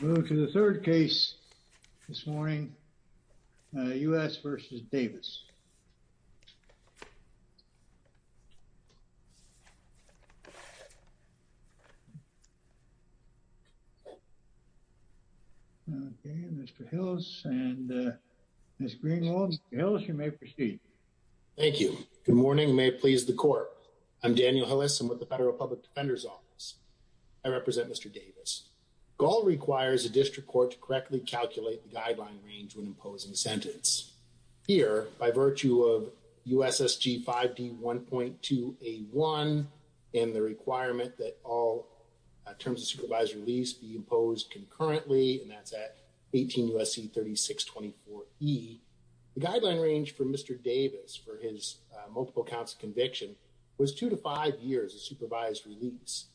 move to the third case this morning U.S. v. Davis. Mr. Hills and Ms. Greenwald, Mr. Hills you may proceed. Thank you. Good morning. May it please the court. I'm Daniel Hillis. I'm with the Gaule requires a district court to correctly calculate the guideline range when imposing sentence. Here, by virtue of USSG 5D 1.2A1 and the requirement that all terms of supervised release be imposed concurrently and that's at 18 U.S.C. 3624E, the guideline range for Mr. Davis for his multiple counts of conviction was two to five years of supervised release.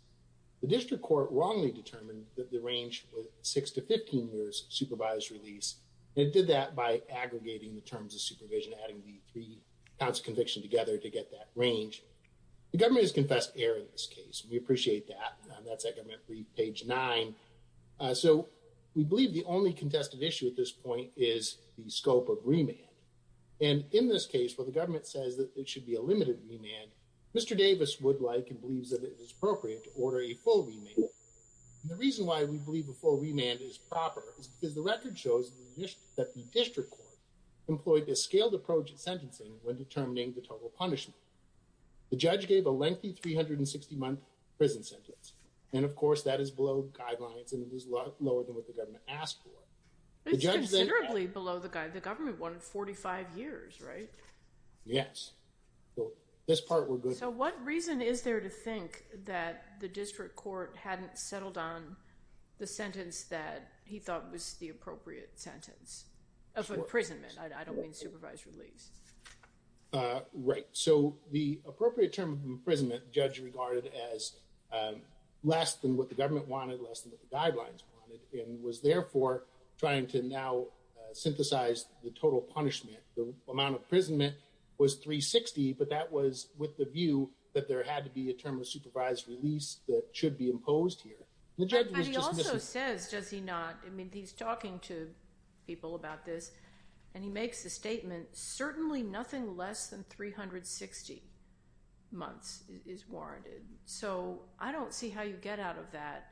The district court wrongly determined that the range was six to 15 years of supervised release. It did that by aggregating the terms of supervision, adding the three counts of conviction together to get that range. The government has confessed error in this case. We appreciate that. That's at government page nine. So we believe the only contested issue at this point is the scope of remand. And in this case, where the government says that it should be a limited remand, Mr. Davis would like and believes that it is appropriate to order a full remand. The reason why we believe a full remand is proper is because the record shows that the district court employed this scaled approach at sentencing when determining the total punishment. The judge gave a lengthy 360-month prison sentence. And of course, that is below guidelines and it is lower than what the government asked for. It's considerably below the government wanted, 45 years, right? Yes, so this part we're good with. So what reason is there to think that the district court hadn't settled on the sentence that he thought was the appropriate sentence of imprisonment? I don't mean supervised release. Right, so the appropriate term of imprisonment, the judge regarded as less than what the government wanted, less than what the guidelines wanted, and was therefore trying to now synthesize the total punishment. The amount of imprisonment was 360, but that was with the view that there had to be a term of supervised release that should be imposed here. But he also says, does he not, I mean, he's talking to people about this, and he makes a statement, certainly nothing less than 360 months is warranted. So I don't see how you get out of that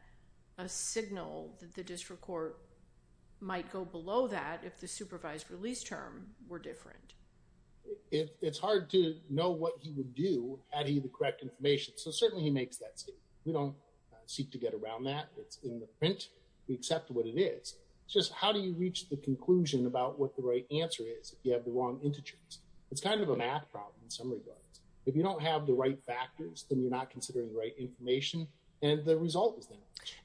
a signal that the district court might go below that if the supervised release term were different. It's hard to know what he would do had he the correct information, so certainly he makes that statement. We don't seek to get around that. It's in the print. We accept what it is. It's just how do you reach the conclusion about what the right answer is if you have the wrong integers? It's kind of a math problem in some regards. If you don't have the right factors, then you're not considering the right information, and the result is that.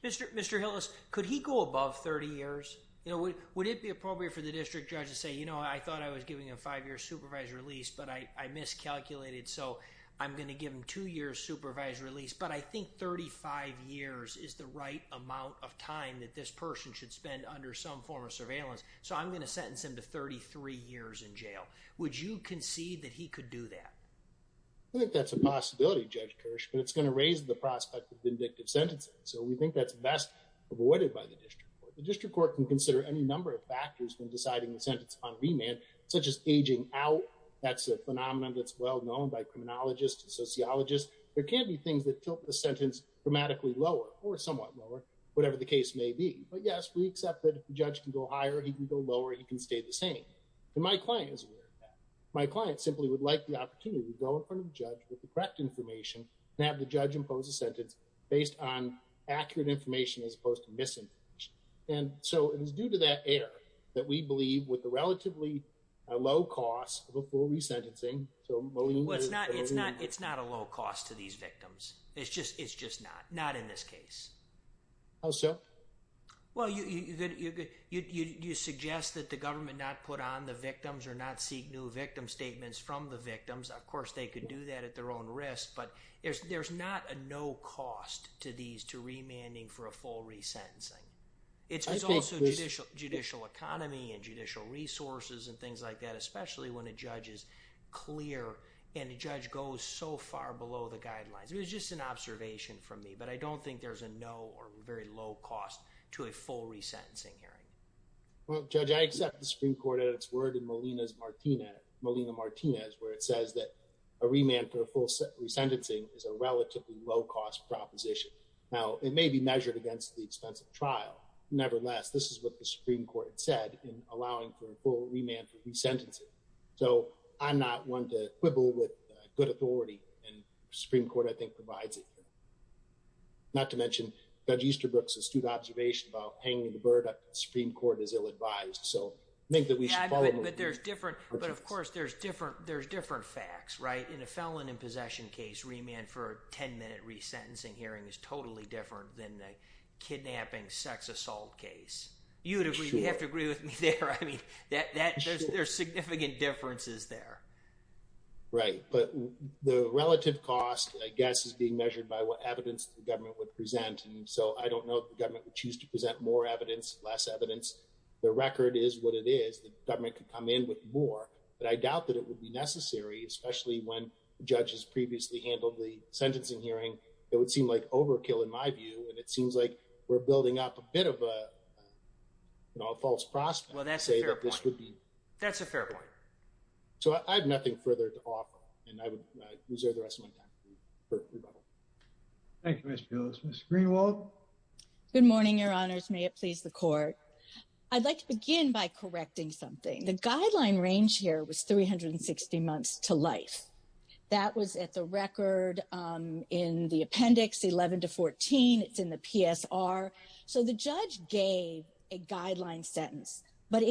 Mr. Hillis, could he go above 30 years? You know, would it be appropriate for the district judge to say, you know, I thought I was giving a five-year supervised release, but I miscalculated, so I'm going to give him two years supervised release, but I think 35 years is the right amount of time that this person should spend under some form of surveillance, so I'm going to sentence him to 33 years in jail. Would you concede that he could do that? I think that's a possibility, Judge Kirsch, but it's going to raise the prospect of vindictive sentencing, so we think that's best avoided by the district court. The district court can consider any number of factors when deciding the sentence upon remand, such as aging out. That's a phenomenon that's well-known by criminologists and sociologists. There can be things that tilt the sentence dramatically lower or somewhat lower, whatever the case may be, but yes, we accept that if the judge can go higher, he can go lower, he can stay the same, and my client is aware of that. My client simply would like the opportunity to go in front of the judge with the correct information and have the judge impose a sentence based on accurate information as opposed to misinformation, and so it is due to that error that we believe with the relatively low cost of a full resentencing, so Maureen is going to... Well, it's not a low cost to these victims. It's just not, not in this case. Oh, so? Well, you suggest that the government not put on the victims or not seek new victim statements from the victims. Of course, they could do that at their own risk, but there's not a no cost to these, to remanding for a full resentencing. I think this... It's also judicial economy and judicial resources and things like that, especially when a judge is clear and a judge goes so far below the guidelines. It was just an observation from me, but I don't think there's a no or very low cost to remanding for a full resentencing. Well, Judge, I accept the Supreme Court at its word in Molina Martinez, where it says that a remand for a full resentencing is a relatively low cost proposition. Now, it may be measured against the expense of trial. Nevertheless, this is what the Supreme Court said in allowing for a full remand for resentencing, so I'm not one to quibble with good authority, and the Supreme Court, I think, provides it. Not to mention, Judge Easterbrook's astute observation about hanging the bird up at the Supreme Court is ill-advised, so I think that we should follow... Yeah, but there's different, but of course, there's different, there's different facts, right? In a felon in possession case, remand for a 10-minute resentencing hearing is totally different than a kidnapping sex assault case. You'd agree, you'd have to agree with me there. I mean, that, that, there's, there's significant differences there. Right, but the relative cost, I guess, is being measured by what evidence the government would present, and so I don't know if the government would choose to present more evidence, less evidence. The record is what it is. The government could come in with more, but I doubt that it would be necessary, especially when the judge has previously handled the sentencing hearing. It would seem like overkill in my view, and it seems like we're building up a bit of a false prospect. Well, that's a fair point. To say that this would be... That's a fair point. So I have nothing further to offer, and I would reserve the rest of my time for rebuttal. Thank you, Mr. Gillis. Ms. Greenwald? Good morning, your honors. May it please the court. I'd like to begin by correcting something. The guideline range here was 360 months to life. That was at the record in the appendix 11 to 14. It's in the PSR. So the judge gave a guideline sentence, but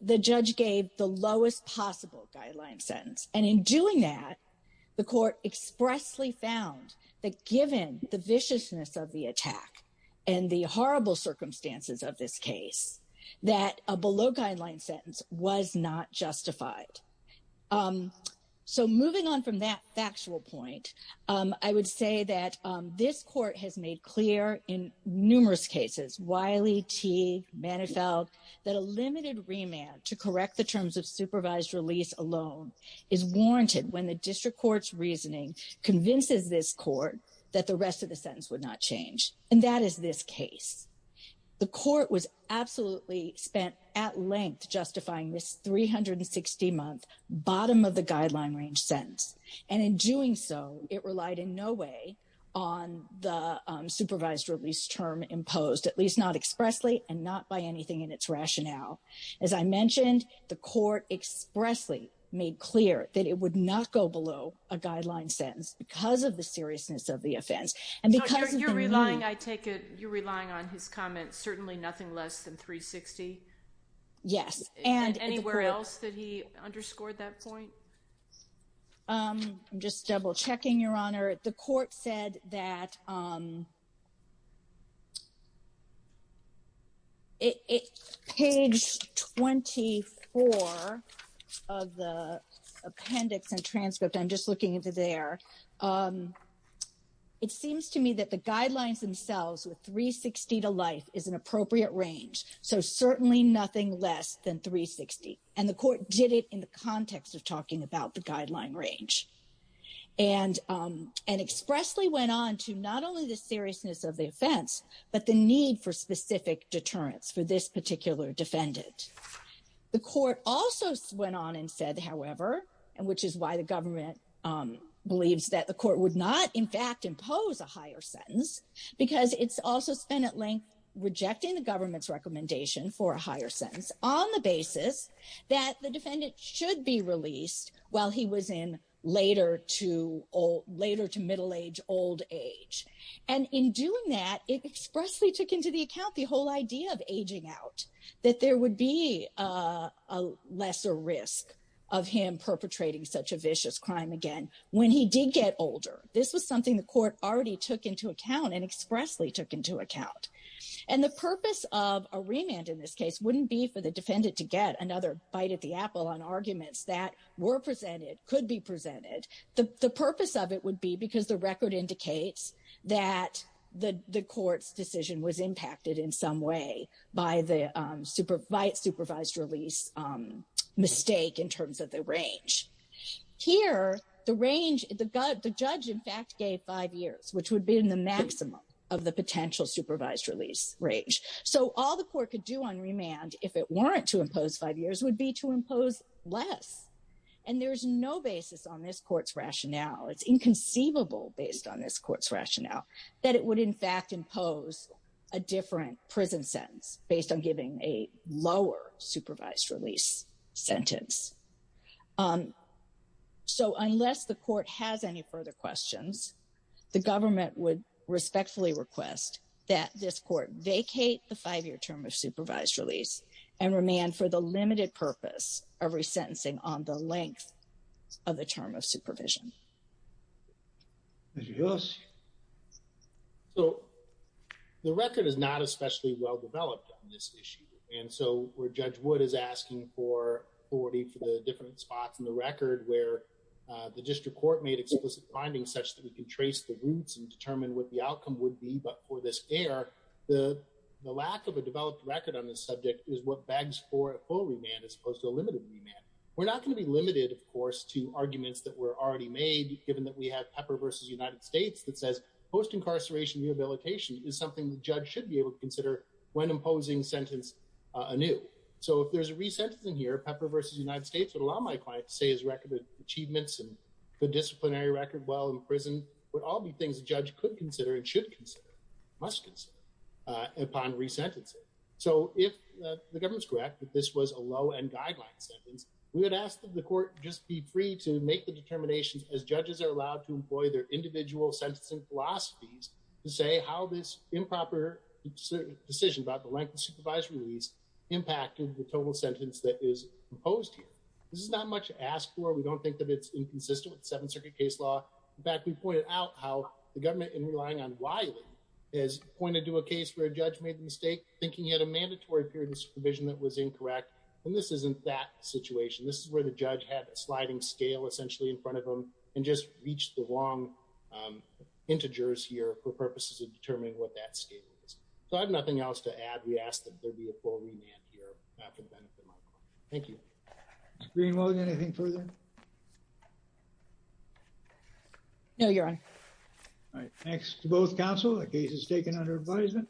the judge gave the lowest possible guideline sentence, and in doing that, the court expressly found that given the viciousness of the attack and the horrible circumstances of this case, that a below guideline sentence was not justified. So moving on from that factual point, I would say that this court has made clear in numerous cases, Wiley, Teague, Manifeld, that a limited remand to correct the terms of supervised release alone is warranted when the district court's reasoning convinces this court that the rest of the sentence would not change, and that is this case. The court was absolutely spent at length justifying this 360-month bottom-of-the-guideline-range sentence, and in doing so, it relied in no way on the supervised release term imposed, at least not expressly and not by anything in its rationale. As I mentioned, the court expressly made clear that it would not go below a guideline sentence because of the seriousness of the offense. And because of the ruling... So you're relying, I take it, you're relying on his comments, certainly nothing less than 360? Yes. And anywhere else that he underscored that point? I'm just double-checking, Your Honor. The court said that... Page 24 of the appendix and transcript, I'm just looking into there. It seems to me that the guidelines themselves with 360 to life is an appropriate range, so certainly nothing less than 360. And the court did it in the context of talking about the guideline range. And expressly went on to not only the seriousness of the offense, but the need for specific deterrence for this particular defendant. The court also went on and said, however, and which is why the government believes that the court would not, in fact, impose a higher sentence, because it's also spent at length rejecting the government's recommendation for a higher sentence on the basis that the defendant should be released while he was in later to middle age, old age. And in doing that, it expressly took into the account the whole idea of aging out, that there would be a lesser risk of him perpetrating such a vicious crime again when he did get older. This was something the court already took into account and expressly took into account. And the purpose of a remand in this case wouldn't be for the defendant to get another bite at the apple on arguments that were presented, could be presented. The purpose of it would be because the record indicates that the court's decision was impacted in some way by the supervised release mistake in terms of the range. Here, the judge, in fact, gave five years, which would be in the maximum of the potential supervised release range. So all the court could do on remand if it weren't to impose five years would be to impose less. And there's no basis on this court's rationale. It's inconceivable based on this court's rationale that it would, in fact, impose a different prison sentence based on giving a lower supervised release sentence. So unless the court has any further questions, the government would respectfully request that this court vacate the five-year term of supervised release and remand for the limited purpose of resentencing on the length of the term of supervision. So the record is not especially well developed on this issue. And so where Judge Wood is asking for authority for the different spots in the record where the district court made explicit findings such that we can trace the roots and determine what the outcome would be, but for this error, the lack of a developed record on this subject is what begs for a full remand as opposed to a limited remand. We're not going to be limited, of course, to arguments that were already made given that we have Pepper v. United States that says post-incarceration rehabilitation is something the judge should be able to consider when imposing sentence anew. So if there's a resentencing here, Pepper v. United States would allow my client to say his record of achievements and the disciplinary record while in prison would all be things the judge could consider and should consider, must consider, upon resentencing. So if the government is correct that this was a low-end guideline sentence, we would ask that the court just be free to make the determinations as judges are allowed to employ their individual sentencing philosophies to say how this improper decision about the length of supervised release impacted the total sentence that is imposed here. This is not much to ask for. We don't think that it's inconsistent with the Seventh Circuit case law. In fact, we pointed out how the government, in relying on Wiley, has pointed to a case where a judge made the mistake thinking he had a mandatory period of supervision that was incorrect. And this isn't that situation. This is where the judge had a sliding scale, essentially, in front of him and just reached the wrong integers here for purposes of determining what that scale is. So I have nothing else to add. We ask that there be a full remand here after the benefit month. Thank you. Ms. Greenwald, anything further? No, Your Honor. All right. Thanks to both counsel. The case is taken under advisement.